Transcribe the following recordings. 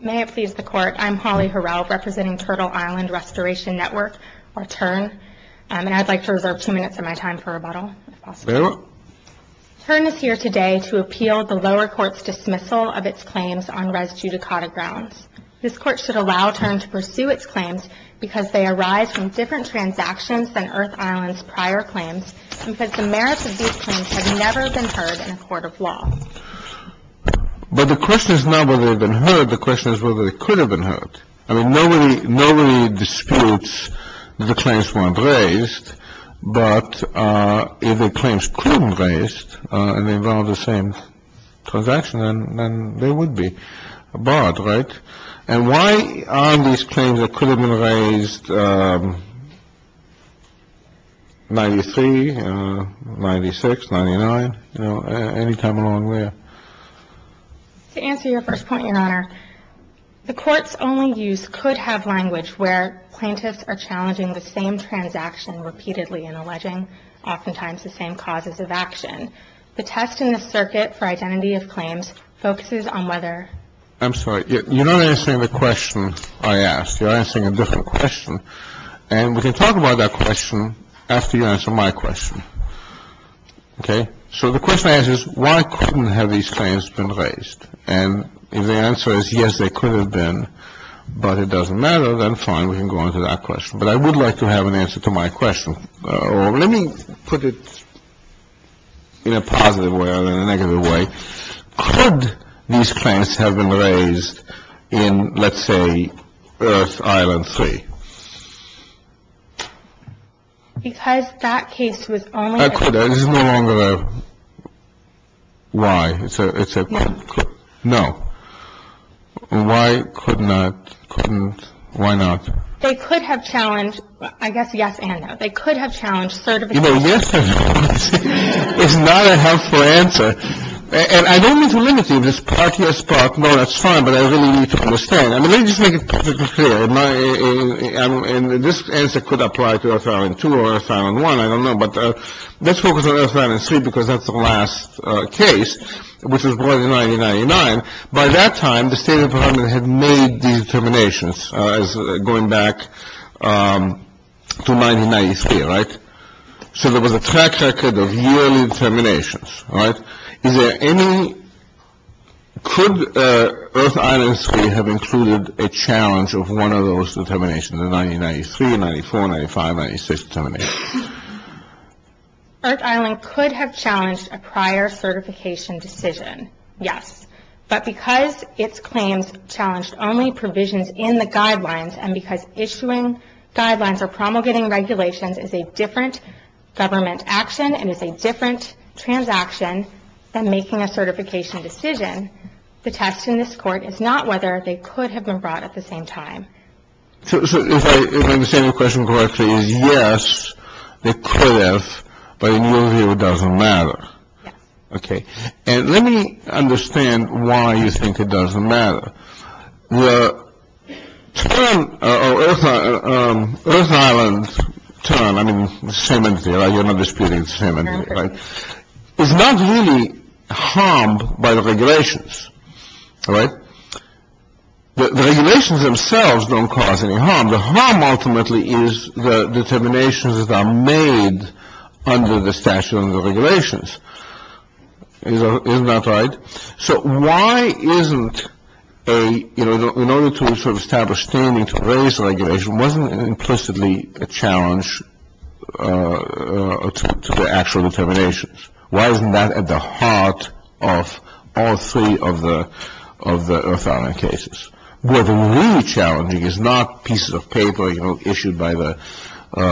May it please the Court, I'm Holly Horrell, representing Turtle Island Restoration Network, or TURN. And I'd like to reserve two minutes of my time for rebuttal, if possible. Very well. TURN is here today to appeal the lower court's dismissal of its claims on res judicata grounds. This court should allow TURN to pursue its claims because they arise from different transactions than Earth Island's prior claims and because the merits of these claims have never been heard in a court of law. But the question is not whether they've been heard. The question is whether they could have been heard. I mean, nobody disputes that the claims weren't raised. But if the claims could have been raised and involved the same transaction, then they would be barred, right? And why are these claims that could have been raised 93, 96, 99? You know, any time along the way. To answer your first point, Your Honor, the court's only use could have language where plaintiffs are challenging the same transaction repeatedly and alleging oftentimes the same causes of action. The test in the circuit for identity of claims focuses on whether. I'm sorry. You're not answering the question I asked. You're answering a different question. And we can talk about that question after you answer my question. Okay. So the question I ask is why couldn't have these claims been raised? And if the answer is yes, they could have been, but it doesn't matter, then fine. We can go on to that question. But I would like to have an answer to my question. Let me put it in a positive way rather than a negative way. Could these claims have been raised in, let's say, Earth Island 3? Because that case was only. It's no longer a why. It's a no. Why could not? Couldn't. Why not? They could have challenged, I guess, yes and no. They could have challenged certification. It's not a helpful answer. And I don't mean to limit you. This is part U.S. part. No, that's fine. But I really need to understand. I mean, let me just make it perfectly clear. And this answer could apply to Earth Island 2 or Earth Island 1. I don't know. But let's focus on Earth Island 3 because that's the last case, which was brought in 1999. By that time, the State Department had made the determinations as going back to 1993, right? So there was a track record of yearly determinations, right? Is there any – could Earth Island 3 have included a challenge of one of those determinations, the 1993, 94, 95, 96 determinations? Earth Island could have challenged a prior certification decision, yes. But because its claims challenged only provisions in the guidelines and because issuing guidelines or promulgating regulations is a different government action and is a different transaction than making a certification decision, the test in this Court is not whether they could have been brought at the same time. So if I understand your question correctly, it is yes, they could have, but in your view, it doesn't matter. Yes. Okay. And let me understand why you think it doesn't matter. The term, Earth Island term, I mean the same entity, right? You're not disputing the same entity, right? It's not really harmed by the regulations, right? The regulations themselves don't cause any harm. The harm ultimately is the determinations that are made under the statute and the regulations. Isn't that right? So why isn't a, you know, in order to sort of establish standing to raise regulation, wasn't it implicitly a challenge to the actual determinations? Why isn't that at the heart of all three of the Earth Island cases? What is really challenging is not pieces of paper, you know, issued by the, you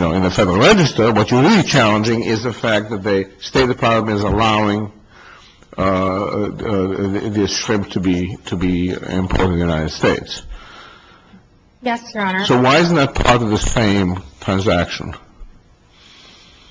know, in the Federal Register. What's really challenging is the fact that the State Department is allowing this shrimp to be imported to the United States. Yes, Your Honor. So why isn't that part of the same transaction?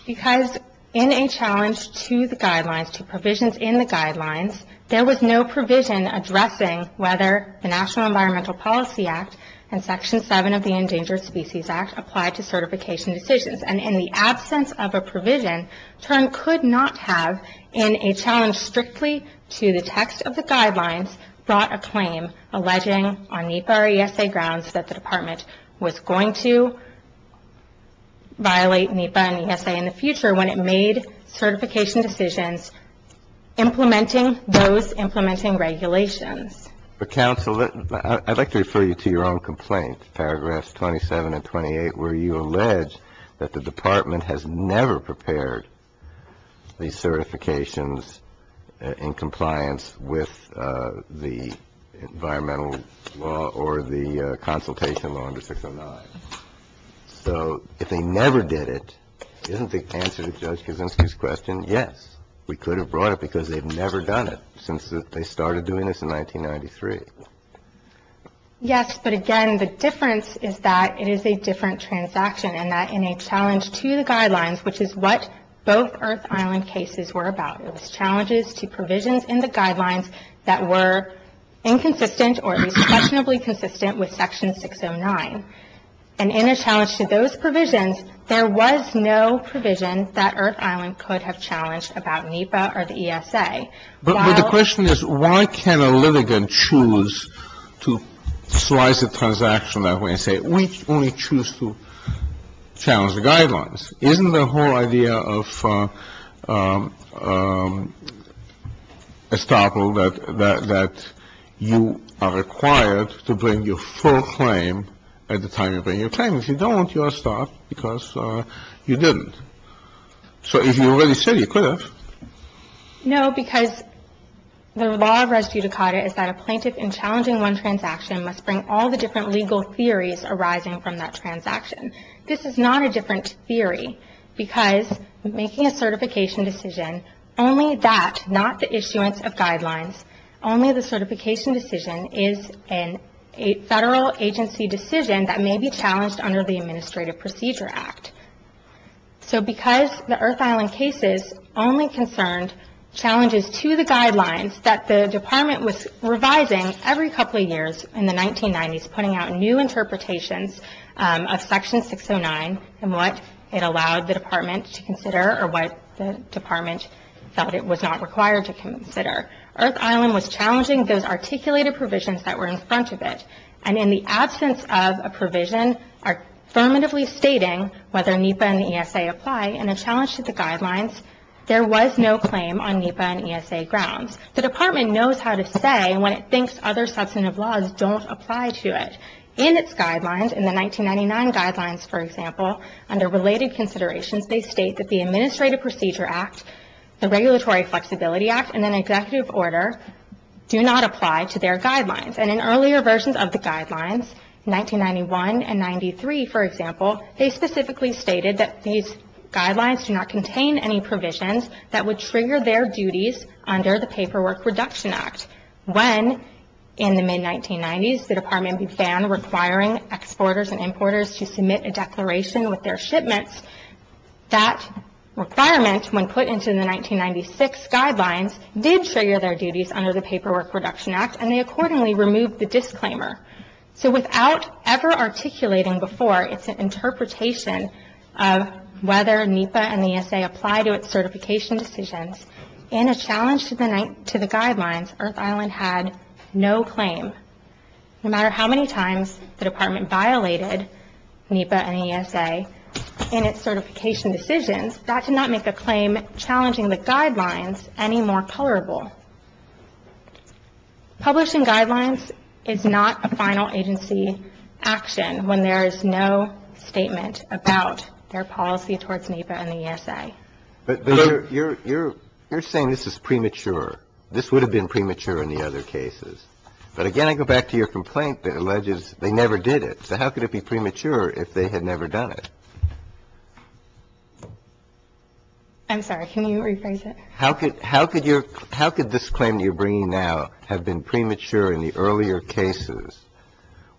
Because in a challenge to the guidelines, to provisions in the guidelines, there was no provision addressing whether the National Environmental Policy Act and Section 7 of the Endangered Species Act applied to certification decisions. And in the absence of a provision, term could not have in a challenge strictly to the text of the guidelines brought a claim alleging on NEPA or ESA grounds that the Department was going to violate NEPA and ESA in the future when it made certification decisions implementing those implementing regulations. But counsel, I'd like to refer you to your own complaint, paragraphs 27 and 28, where you allege that the Department has never prepared these certifications in compliance with the environmental law or the consultation law under 609. So if they never did it, isn't the answer to Judge Kuczynski's question yes, we could have brought it because they've never done it since they started doing this in 1993? Yes. But again, the difference is that it is a different transaction and that in a challenge to the guidelines, which is what both Earth Island cases were about, it was challenges to provisions in the guidelines that were inconsistent or at least questionably consistent with Section 609. And in a challenge to those provisions, there was no provision that Earth Island could have challenged about NEPA or the ESA. So the question is why can a litigant choose to slice a transaction that way and say we only choose to challenge the guidelines? Isn't the whole idea of estoppel that you are required to bring your full claim at the time you bring your claim? If you don't, you are stopped because you didn't. So if you already said you could have. No, because the law of res judicata is that a plaintiff in challenging one transaction must bring all the different legal theories arising from that transaction. This is not a different theory because making a certification decision, only that, not the issuance of guidelines, only the certification decision is a federal agency decision that may be challenged under the Administrative Procedure Act. So because the Earth Island cases only concerned challenges to the guidelines that the Department was revising every couple of years in the 1990s, putting out new interpretations of Section 609 and what it allowed the Department to consider or what the Department felt it was not required to consider. Earth Island was challenging those articulated provisions that were in front of it. And in the absence of a provision affirmatively stating whether NEPA and the ESA apply and a challenge to the guidelines, there was no claim on NEPA and ESA grounds. The Department knows how to say when it thinks other substantive laws don't apply to it. In its guidelines, in the 1999 guidelines, for example, under related considerations, they state that the Administrative Procedure Act, the Regulatory Flexibility Act, and then Executive Order do not apply to their guidelines. And in earlier versions of the guidelines, 1991 and 93, for example, they specifically stated that these guidelines do not contain any provisions that would trigger their duties under the Paperwork Reduction Act. When, in the mid-1990s, the Department began requiring exporters and importers to submit a declaration with their shipments, that requirement, when put into the 1996 guidelines, did trigger their duties under the Paperwork Reduction Act and they accordingly removed the disclaimer. So without ever articulating before, it's an interpretation of whether NEPA and ESA apply to its certification decisions. In a challenge to the guidelines, Earth Island had no claim. No matter how many times the Department violated NEPA and ESA in its certification decisions, that did not make a claim challenging the guidelines any more colorable. Publishing guidelines is not a final agency action when there is no statement about their policy towards NEPA and ESA. But you're saying this is premature. This would have been premature in the other cases. But again, I go back to your complaint that alleges they never did it. So how could it be premature if they had never done it? I'm sorry. Can you rephrase it? How could this claim you're bringing now have been premature in the earlier cases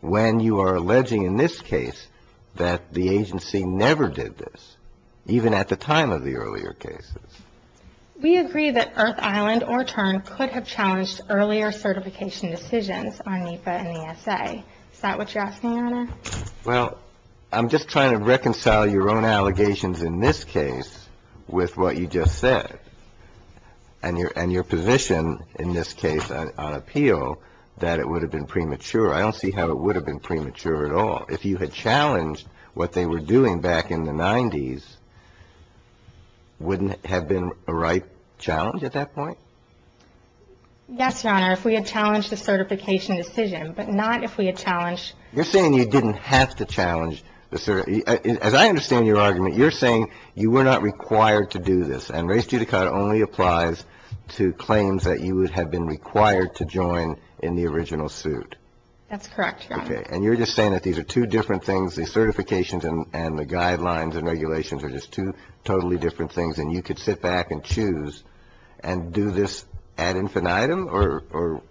when you are alleging in this case that the agency never did this, even at the time of the earlier cases? We agree that Earth Island or TURN could have challenged earlier certification decisions on NEPA and ESA. Well, I'm just trying to reconcile your own allegations in this case with what you just said and your position in this case on appeal that it would have been premature. I don't see how it would have been premature at all. If you had challenged what they were doing back in the 90s, wouldn't it have been a right challenge at that point? Yes, Your Honor, if we had challenged the certification decision, but not if we had challenged You're saying you didn't have to challenge the certification. As I understand your argument, you're saying you were not required to do this, and res judicata only applies to claims that you would have been required to join in the original suit. That's correct, Your Honor. Okay. And you're just saying that these are two different things, the certifications and the guidelines and regulations are just two totally different things, and you could sit back and choose and do this ad infinitum or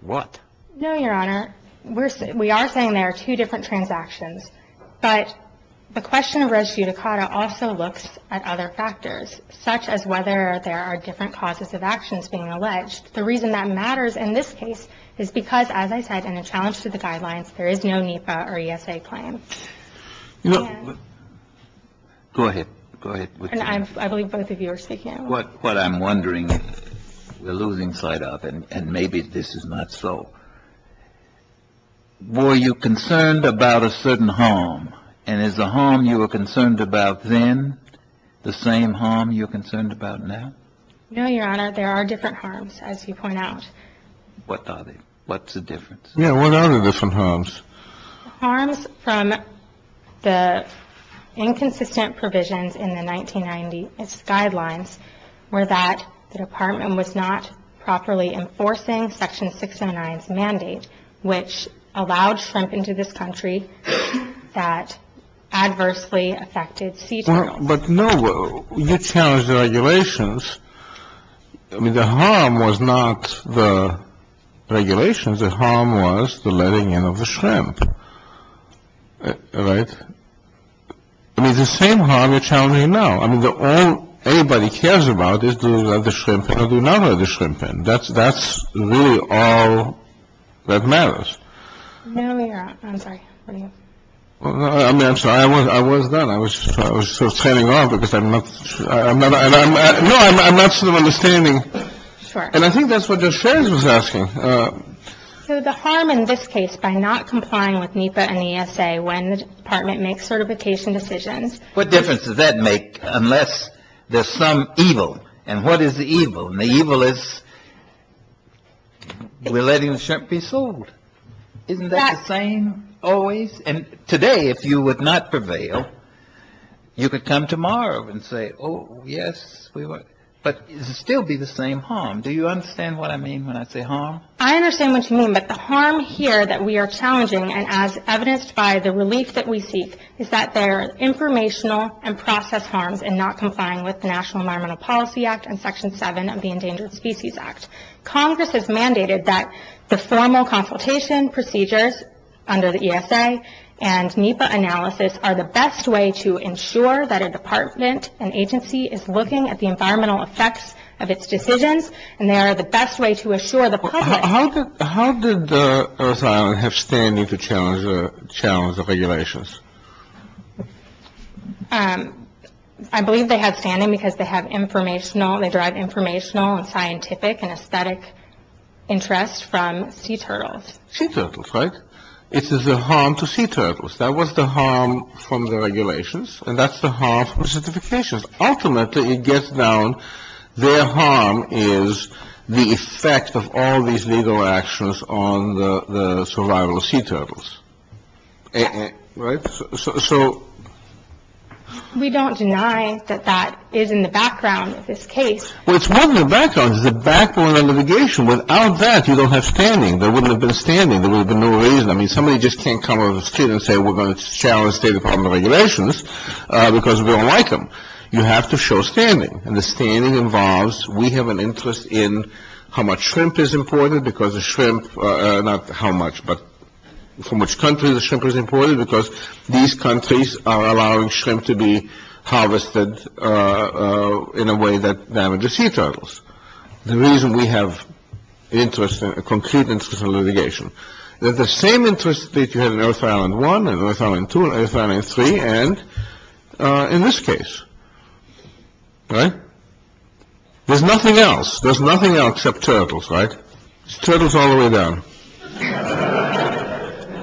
what? No, Your Honor. We are saying there are two different transactions, but the question of res judicata also looks at other factors, such as whether there are different causes of actions being alleged. The reason that matters in this case is because, as I said, in a challenge to the guidelines, there is no NEPA or ESA claim. Go ahead. Go ahead. I believe both of you are speaking. What I'm wondering, we're losing sight of, and maybe this is not so, were you concerned about a certain harm, and is the harm you were concerned about then the same harm you're concerned about now? No, Your Honor. There are different harms, as you point out. What are they? What's the difference? Yeah, what are the different harms? The harms from the inconsistent provisions in the 1990 guidelines were that the Department was not properly enforcing Section 609's mandate, which allowed shrimp into this country that adversely affected sea turtles. But, no, you challenged the regulations. I mean, the harm was not the regulations. The harm was the letting in of the shrimp. Right? I mean, the same harm you're challenging now. I mean, the only thing anybody cares about is do we let the shrimp in or do we not let the shrimp in. That's really all that matters. No, Your Honor. I'm sorry. What are you? I'm sorry. I was that. I was sort of turning off because I'm not, no, I'm not sort of understanding. Sure. And I think that's what Ms. Shares was asking. So the harm in this case by not complying with NEPA and the ESA when the Department makes certification decisions. What difference does that make unless there's some evil? And what is the evil? And the evil is we're letting the shrimp be sold. Isn't that the same always? And today, if you would not prevail, you could come tomorrow and say, oh, yes, we would. But does it still be the same harm? Do you understand what I mean when I say harm? I understand what you mean. But the harm here that we are challenging, and as evidenced by the relief that we seek, is that there are informational and process harms in not complying with the National Environmental Policy Act and Section 7 of the Endangered Species Act. Congress has mandated that the formal consultation procedures under the ESA and NEPA analysis are the best way to ensure that a department, an agency, is looking at the environmental effects of its decisions and they are the best way to assure the public. How did Earth Island have standing to challenge the regulations? I believe they have standing because they have informational, they derive informational and scientific and aesthetic interest from sea turtles. Sea turtles, right? It is a harm to sea turtles. That was the harm from the regulations, and that's the harm from the certifications. Ultimately, it gets down, their harm is the effect of all these legal actions on the survival of sea turtles. Right? So... We don't deny that that is in the background of this case. Well, it's not in the background. It's the background of litigation. Without that, you don't have standing. There wouldn't have been standing. There would have been no reason. I mean, somebody just can't come on the street and say, we're going to challenge State Department regulations because we don't like them. You have to show standing, and the standing involves, we have an interest in how much shrimp is imported because the shrimp, not how much, but from which country the shrimp is imported, because these countries are allowing shrimp to be harvested in a way that damages sea turtles. The reason we have interest, a concrete interest in litigation. There's the same interest that you had in Earth Island 1, and Earth Island 2, and Earth Island 3, and in this case. Right? There's nothing else. There's nothing else except turtles, right? Turtles all the way down.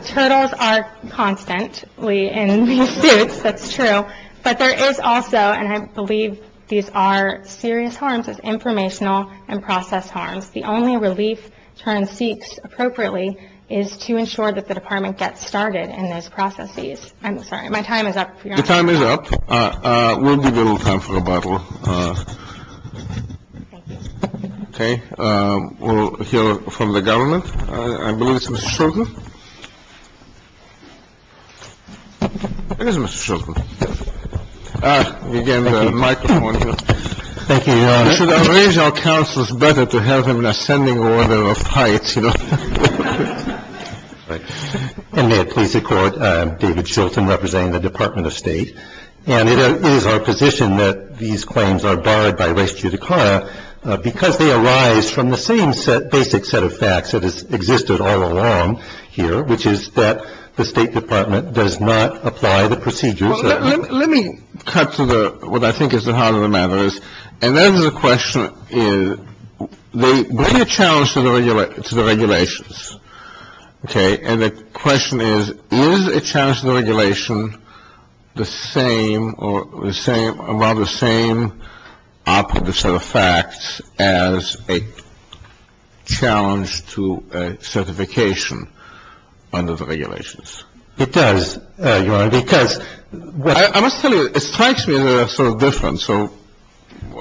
Turtles are constantly in these suits. That's true. But there is also, and I believe these are serious harms. It's informational and process harms. The only relief turn seeks appropriately is to ensure that the Department gets started in those processes. I'm sorry. My time is up. Your time is up. We'll give you a little time for rebuttal. Okay. We'll hear from the government. I believe it's Mr. Shulton. Again, the microphone here. Thank you, Your Honor. Should I arrange our counselors better to have them in ascending order of heights, you know? And may it please the Court, I am David Shulton representing the Department of State. And it is our position that these claims are barred by res judicata because they arise from the same set, basic set of facts that has existed all along here, which is that the State Department does not apply the procedures. Let me cut to what I think is the heart of the matter. And that is the question. They bring a challenge to the regulations. Okay. And the question is, is a challenge to the regulation the same or rather the same operative set of facts as a challenge to certification under the regulations? It does, Your Honor, because what I must tell you, it strikes me as sort of different.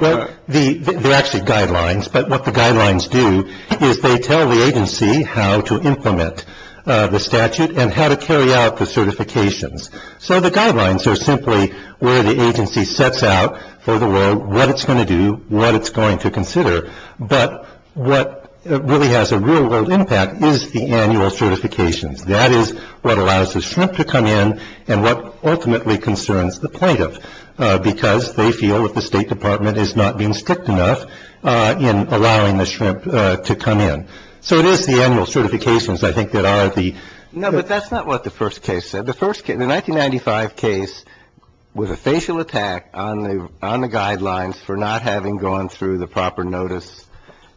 There are actually guidelines. But what the guidelines do is they tell the agency how to implement the statute and how to carry out the certifications. So the guidelines are simply where the agency sets out for the world what it's going to do, what it's going to consider. But what really has a real world impact is the annual certifications. That is what allows the shrimp to come in and what ultimately concerns the plaintiff, because they feel that the State Department is not being strict enough in allowing the shrimp to come in. So it is the annual certifications, I think, that are the. No, but that's not what the first case said. The first case, the 1995 case, was a facial attack on the guidelines for not having gone through the proper notice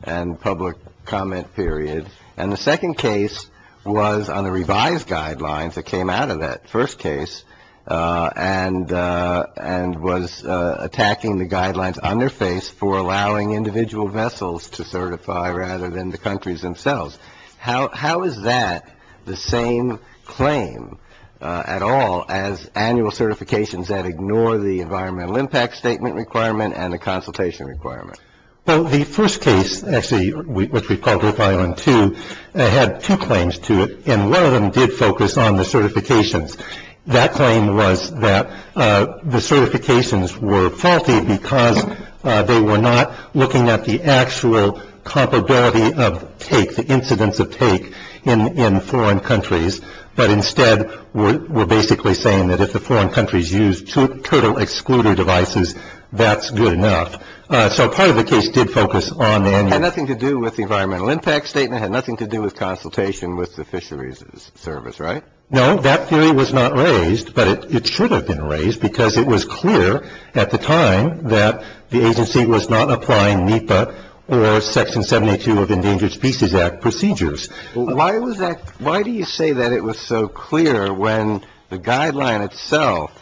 and public comment period. And the second case was on the revised guidelines that came out of that first case and was attacking the guidelines on their face for allowing individual vessels to certify rather than the countries themselves. How is that the same claim at all as annual certifications that ignore the environmental impact statement requirement and the consultation requirement? Well, the first case, actually, which we call Group I and II, had two claims to it. And one of them did focus on the certifications. That claim was that the certifications were faulty because they were not looking at the actual compatibility of take, the incidence of take in foreign countries, but instead were basically saying that if the foreign countries used turtle excluder devices, that's good enough. So part of the case did focus on that. It had nothing to do with the environmental impact statement. It had nothing to do with consultation with the fisheries service, right? No, that theory was not raised, but it should have been raised because it was clear at the time that the agency was not applying NEPA or Section 72 of the Endangered Species Act procedures. Why do you say that it was so clear when the guideline itself,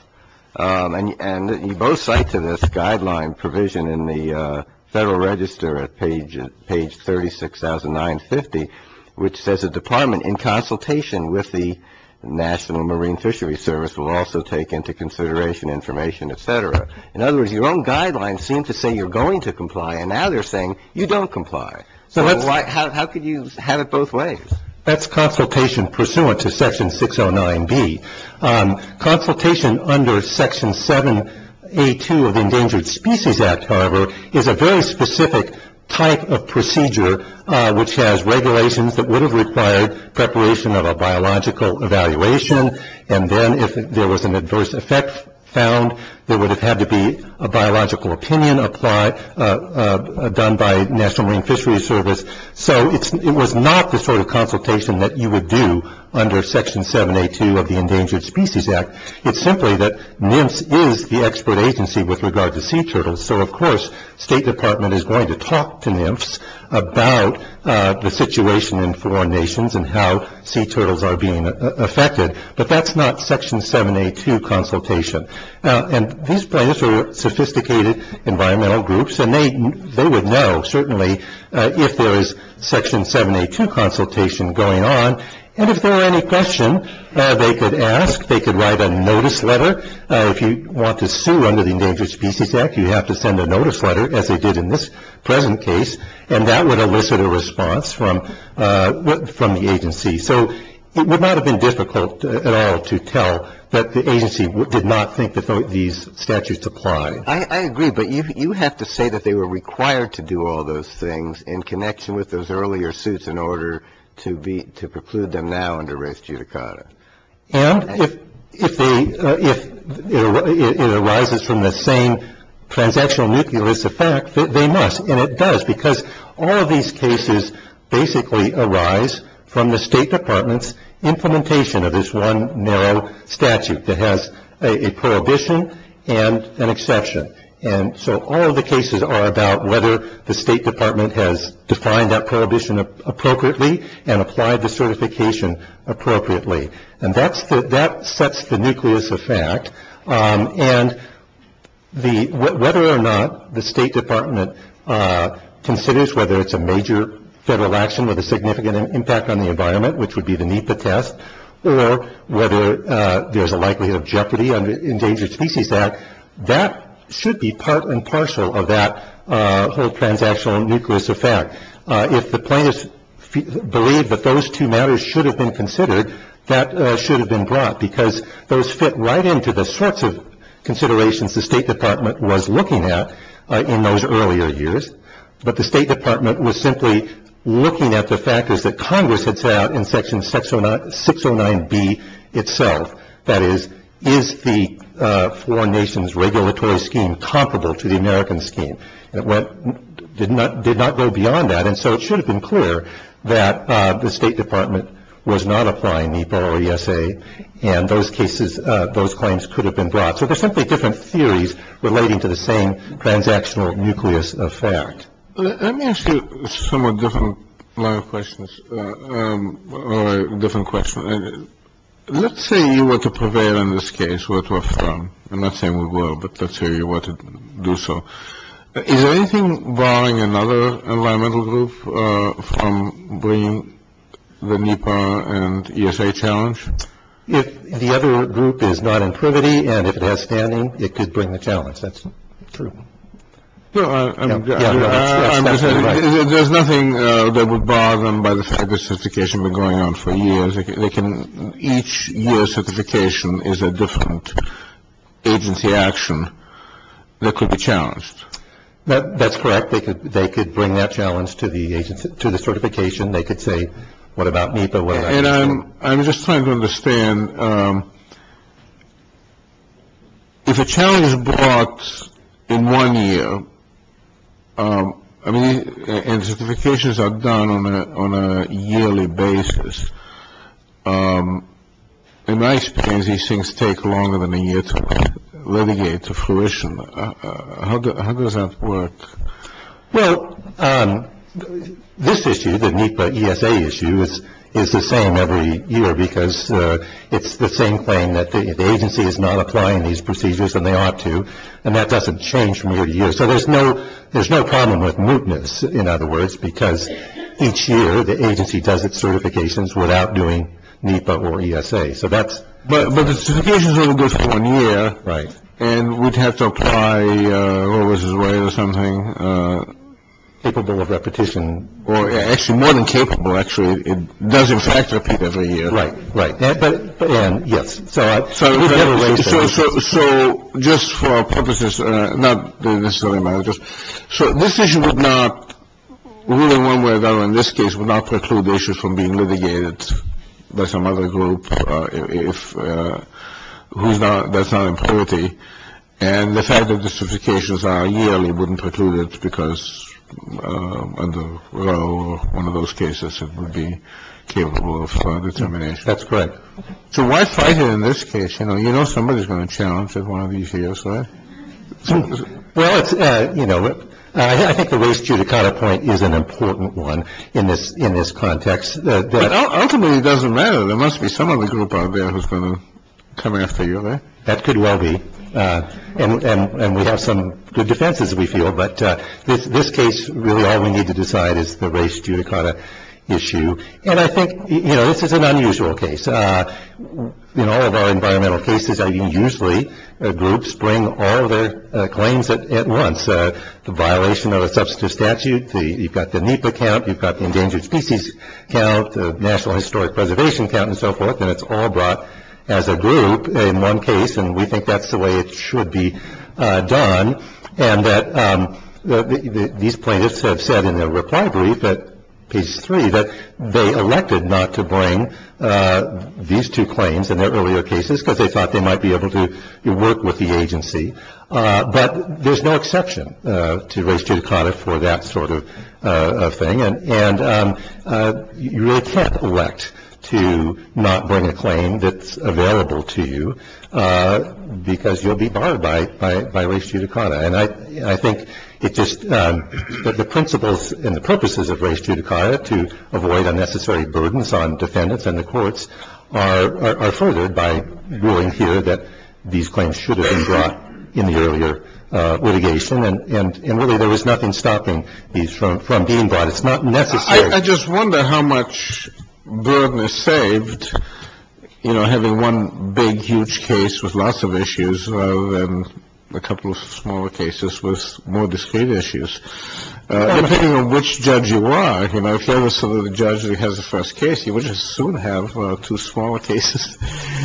and you both cite to this guideline provision in the Federal Register at page 36,950, which says a department in consultation with the National Marine Fishery Service will also take into consideration information, et cetera. In other words, your own guidelines seem to say you're going to comply, and now they're saying you don't comply. So how could you have it both ways? That's consultation pursuant to Section 609B. Consultation under Section 7A2 of the Endangered Species Act, however, is a very specific type of procedure, which has regulations that would have required preparation of a biological evaluation, and then if there was an adverse effect found, there would have had to be a biological opinion done by National Marine Fishery Service. So it was not the sort of consultation that you would do under Section 7A2 of the Endangered Species Act. It's simply that NIMFS is the expert agency with regard to sea turtles, so of course State Department is going to talk to NIMFS about the situation in foreign nations and how sea turtles are being affected, but that's not Section 7A2 consultation. And these plaintiffs are sophisticated environmental groups, and they would know, certainly, if there is Section 7A2 consultation going on, and if there were any question they could ask, they could write a notice letter. If you want to sue under the Endangered Species Act, you have to send a notice letter, as they did in this present case, and that would elicit a response from the agency. So it would not have been difficult at all to tell that the agency did not think that these statutes applied. I agree, but you have to say that they were required to do all those things in connection with those earlier suits in order to preclude them now under res judicata. And if it arises from the same transactional nucleus effect, they must, and it does, because all of these cases basically arise from the State Department's implementation of this one narrow statute that has a prohibition and an exception. And so all of the cases are about whether the State Department has defined that prohibition appropriately and applied the certification appropriately. And that sets the nucleus effect, and whether or not the State Department considers whether it's a major federal action with a significant impact on the environment, which would be the NEPA test, or whether there's a likelihood of jeopardy under the Endangered Species Act, that should be part and parcel of that whole transactional nucleus effect. If the plaintiffs believe that those two matters should have been considered, that should have been brought, because those fit right into the sorts of considerations the State Department was looking at in those earlier years. But the State Department was simply looking at the factors that Congress had set out in Section 609B itself. That is, is the four nations regulatory scheme comparable to the American scheme? It did not go beyond that. And so it should have been clear that the State Department was not applying the BORESA, and those claims could have been brought. So they're simply different theories relating to the same transactional nucleus effect. Let me ask you a somewhat different line of questions, or a different question. Let's say you were to prevail in this case, were to affirm. I'm not saying we were, but let's say we were to do so. Is there anything barring another environmental group from bringing the NEPA and ESA challenge? If the other group is not in privity and if it has standing, it could bring the challenge. That's true. No, I'm just saying there's nothing that would bar them by the fact that certification has been going on for years. Each year certification is a different agency action that could be challenged. That's correct. They could bring that challenge to the certification. They could say, what about NEPA? I'm just trying to understand. If a challenge is brought in one year and certifications are done on a yearly basis, in my experience these things take longer than a year to renegade to fruition. How does that work? Well, this issue, the NEPA ESA issue, is the same every year because it's the same thing. The agency is not applying these procedures, and they ought to, and that doesn't change from year to year. So there's no problem with mootness, in other words, because each year the agency does its certifications without doing NEPA or ESA. But the certifications are only good for one year, and we'd have to apply Roe versus Wade or something. Capable of repetition. Actually, more than capable, actually. It does, in fact, repeat every year. Right, right. Yes. So just for our purposes, not necessarily managers, so this issue would not, really one way or another in this case, would not preclude the issue from being litigated by some other group that's not in parity. And the fact that the certifications are yearly wouldn't preclude it, because under Roe or one of those cases it would be capable of determination. That's correct. So why fight it in this case? You know somebody's going to challenge it one of these years, right? Well, it's, you know, I think the race judicata point is an important one in this in this context. Ultimately, it doesn't matter. There must be some other group out there who's going to come after you. That could well be. And we have some good defenses, we feel. But this case, really, all we need to decide is the race judicata issue. And I think, you know, this is an unusual case. In all of our environmental cases, usually groups bring all their claims at once. The violation of a substantive statute, you've got the NEPA count, you've got the endangered species count, the National Historic Preservation count, and so forth, and it's all brought as a group in one case, and we think that's the way it should be done. And that these plaintiffs have said in their reply brief at page three that they elected not to bring these two claims in their earlier cases, because they thought they might be able to work with the agency. But there's no exception to race judicata for that sort of thing. And you really can't elect to not bring a claim that's available to you, because you'll be barred by race judicata. And I think it's just that the principles and the purposes of race judicata to avoid unnecessary burdens on defendants and the courts are furthered by ruling here that these claims should have been brought in the earlier litigation. And, really, there was nothing stopping these from being brought. It's not necessary. I just wonder how much burden is saved, you know, having one big, huge case with lots of issues, and a couple of smaller cases with more discreet issues, depending on which judge you are. You know, if you're the judge that has the first case, you would just soon have two smaller cases.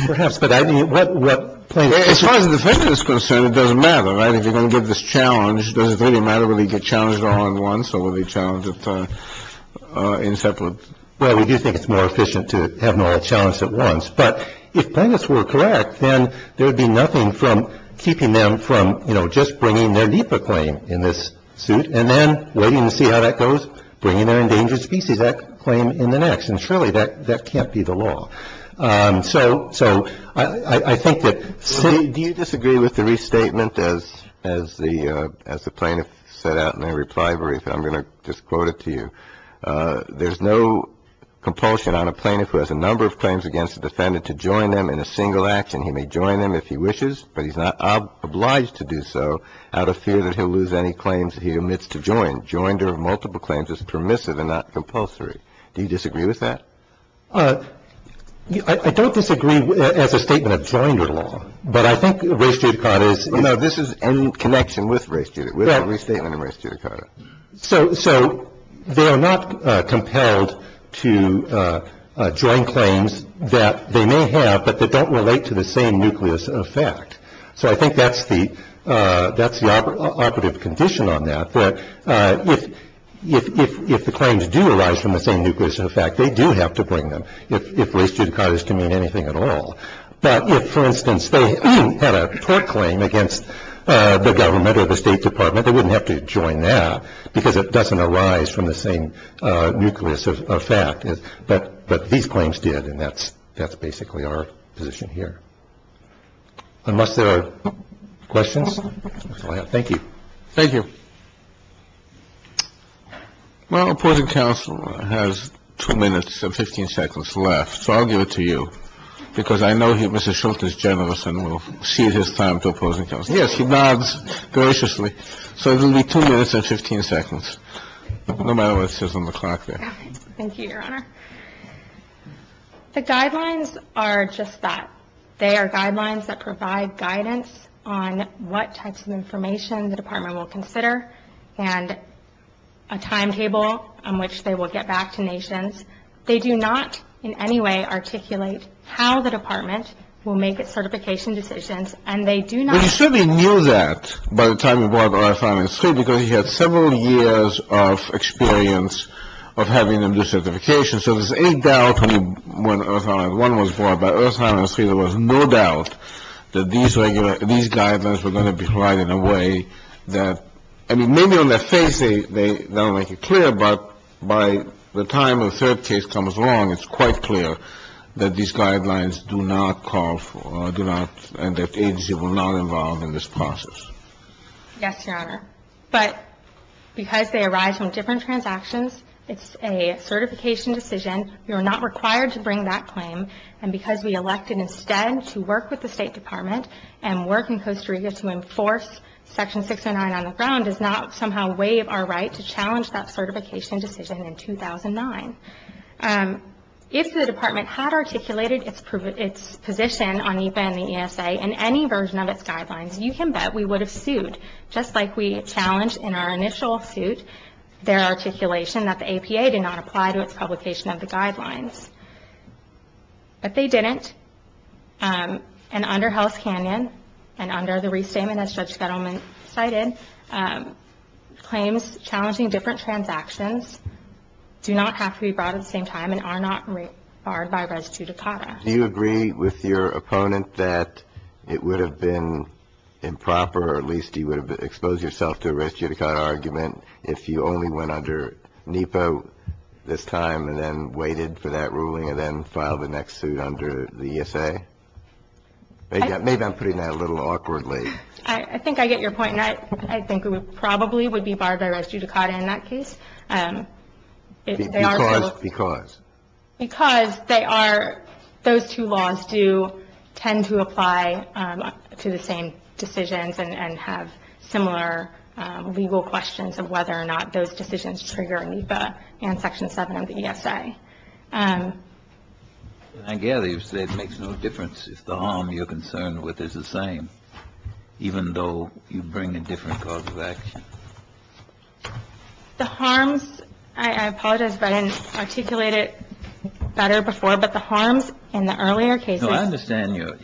Perhaps. But I mean, as far as the defendant is concerned, it doesn't matter. Right. If you're going to give this challenge. Does it really matter when we get challenged all at once or when we challenge it in separate? Well, we do think it's more efficient to have them all challenged at once. But if plaintiffs were correct, then there would be nothing from keeping them from, you know, just bringing their NEPA claim in this suit and then waiting to see how that goes. Bringing their endangered species claim in the next. And surely that that can't be the law. So I think that. Do you disagree with the restatement as the plaintiff set out in their reply brief? I'm going to just quote it to you. There's no compulsion on a plaintiff who has a number of claims against the defendant to join them in a single action. He may join them if he wishes, but he's not obliged to do so out of fear that he'll lose any claims he omits to join. Joinder of multiple claims is permissive and not compulsory. Do you disagree with that? I don't disagree as a statement of joinder law, but I think race judicata is. You know, this is in connection with race judicata. We have a restatement of race judicata. So they are not compelled to join claims that they may have, but that don't relate to the same nucleus of fact. So I think that's the that's the operative condition on that. If the claims do arise from the same nucleus of fact, they do have to bring them. If race judicata is to mean anything at all. But if, for instance, they had a court claim against the government or the State Department, they wouldn't have to join that because it doesn't arise from the same nucleus of fact. But these claims did. And that's that's basically our position here. Unless there are questions. Thank you. Thank you. Well, opposing counsel has two minutes and 15 seconds left. So I'll give it to you because I know you, Mr. Schultz, is generous and will cede his time to opposing counsel. Yes, he nods graciously. So it will be two minutes and 15 seconds. No matter what it says on the clock. Thank you, Your Honor. The guidelines are just that. They are guidelines that provide guidance on what types of information the department will consider and a timetable on which they will get back to nations. They do not in any way articulate how the department will make its certification decisions. And they do not. Well, you certainly knew that by the time you brought up Earth, Land, and Street because you had several years of experience of having them do certifications. So there's any doubt when Earth, Land, and Street was brought up, there was no doubt that these guidelines were going to be provided in a way that, I mean, maybe on their face they don't make it clear, but by the time a third case comes along, it's quite clear that these guidelines do not call for or do not and that the agency will not involve in this process. Yes, Your Honor. But because they arise from different transactions, it's a certification decision. We were not required to bring that claim. And because we elected instead to work with the State Department and work in Costa Rica to enforce Section 609 on the ground, does not somehow waive our right to challenge that certification decision in 2009. If the department had articulated its position on EPA and the ESA in any version of its guidelines, you can bet we would have sued just like we challenged in our initial suit their articulation that the EPA did not apply to its publication of the guidelines. But they didn't. And under Hell's Canyon and under the restatement, as Judge Fettelman cited, claims challenging different transactions do not have to be brought at the same time and are not barred by res judicata. Do you agree with your opponent that it would have been improper or at least you would have exposed yourself to a res judicata argument if you only went under NEPA this time and then waited for that ruling and then filed the next suit under the ESA? Maybe I'm putting that a little awkwardly. I think I get your point. I think it probably would be barred by res judicata in that case. Because? Just because. Because they are, those two laws do tend to apply to the same decisions and have similar legal questions of whether or not those decisions trigger NEPA and Section 7 of the ESA. I gather you said it makes no difference if the harm you're concerned with is the same, even though you bring a different cause of action. The harms, I apologize, I didn't articulate it better before, but the harms in the earlier cases. No, I understand your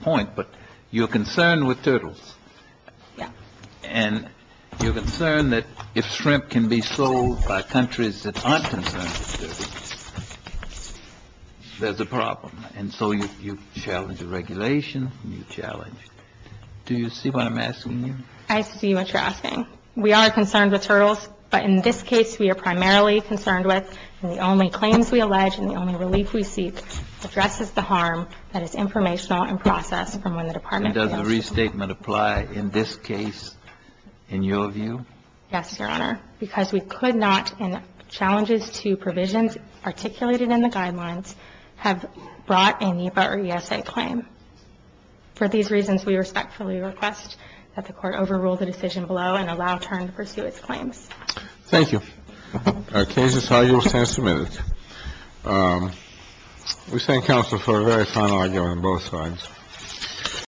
point, but you're concerned with turtles. Yes. And you're concerned that if shrimp can be sold by countries that aren't concerned with turtles, there's a problem. And so you challenge the regulation and you challenge. Do you see what I'm asking you? I see what you're asking. We are concerned with turtles, but in this case, we are primarily concerned with the only claims we allege and the only relief we seek addresses the harm that is informational and processed from when the Department of Health. And does the restatement apply in this case in your view? Yes, Your Honor. Because we could not, and challenges to provisions articulated in the guidelines have brought a NEPA or ESA claim. For these reasons, we respectfully request that the Court overrule the decision below and allow turn to pursue its claims. Thank you. Our case is now yours and submitted. We thank counsel for a very fine argument on both sides.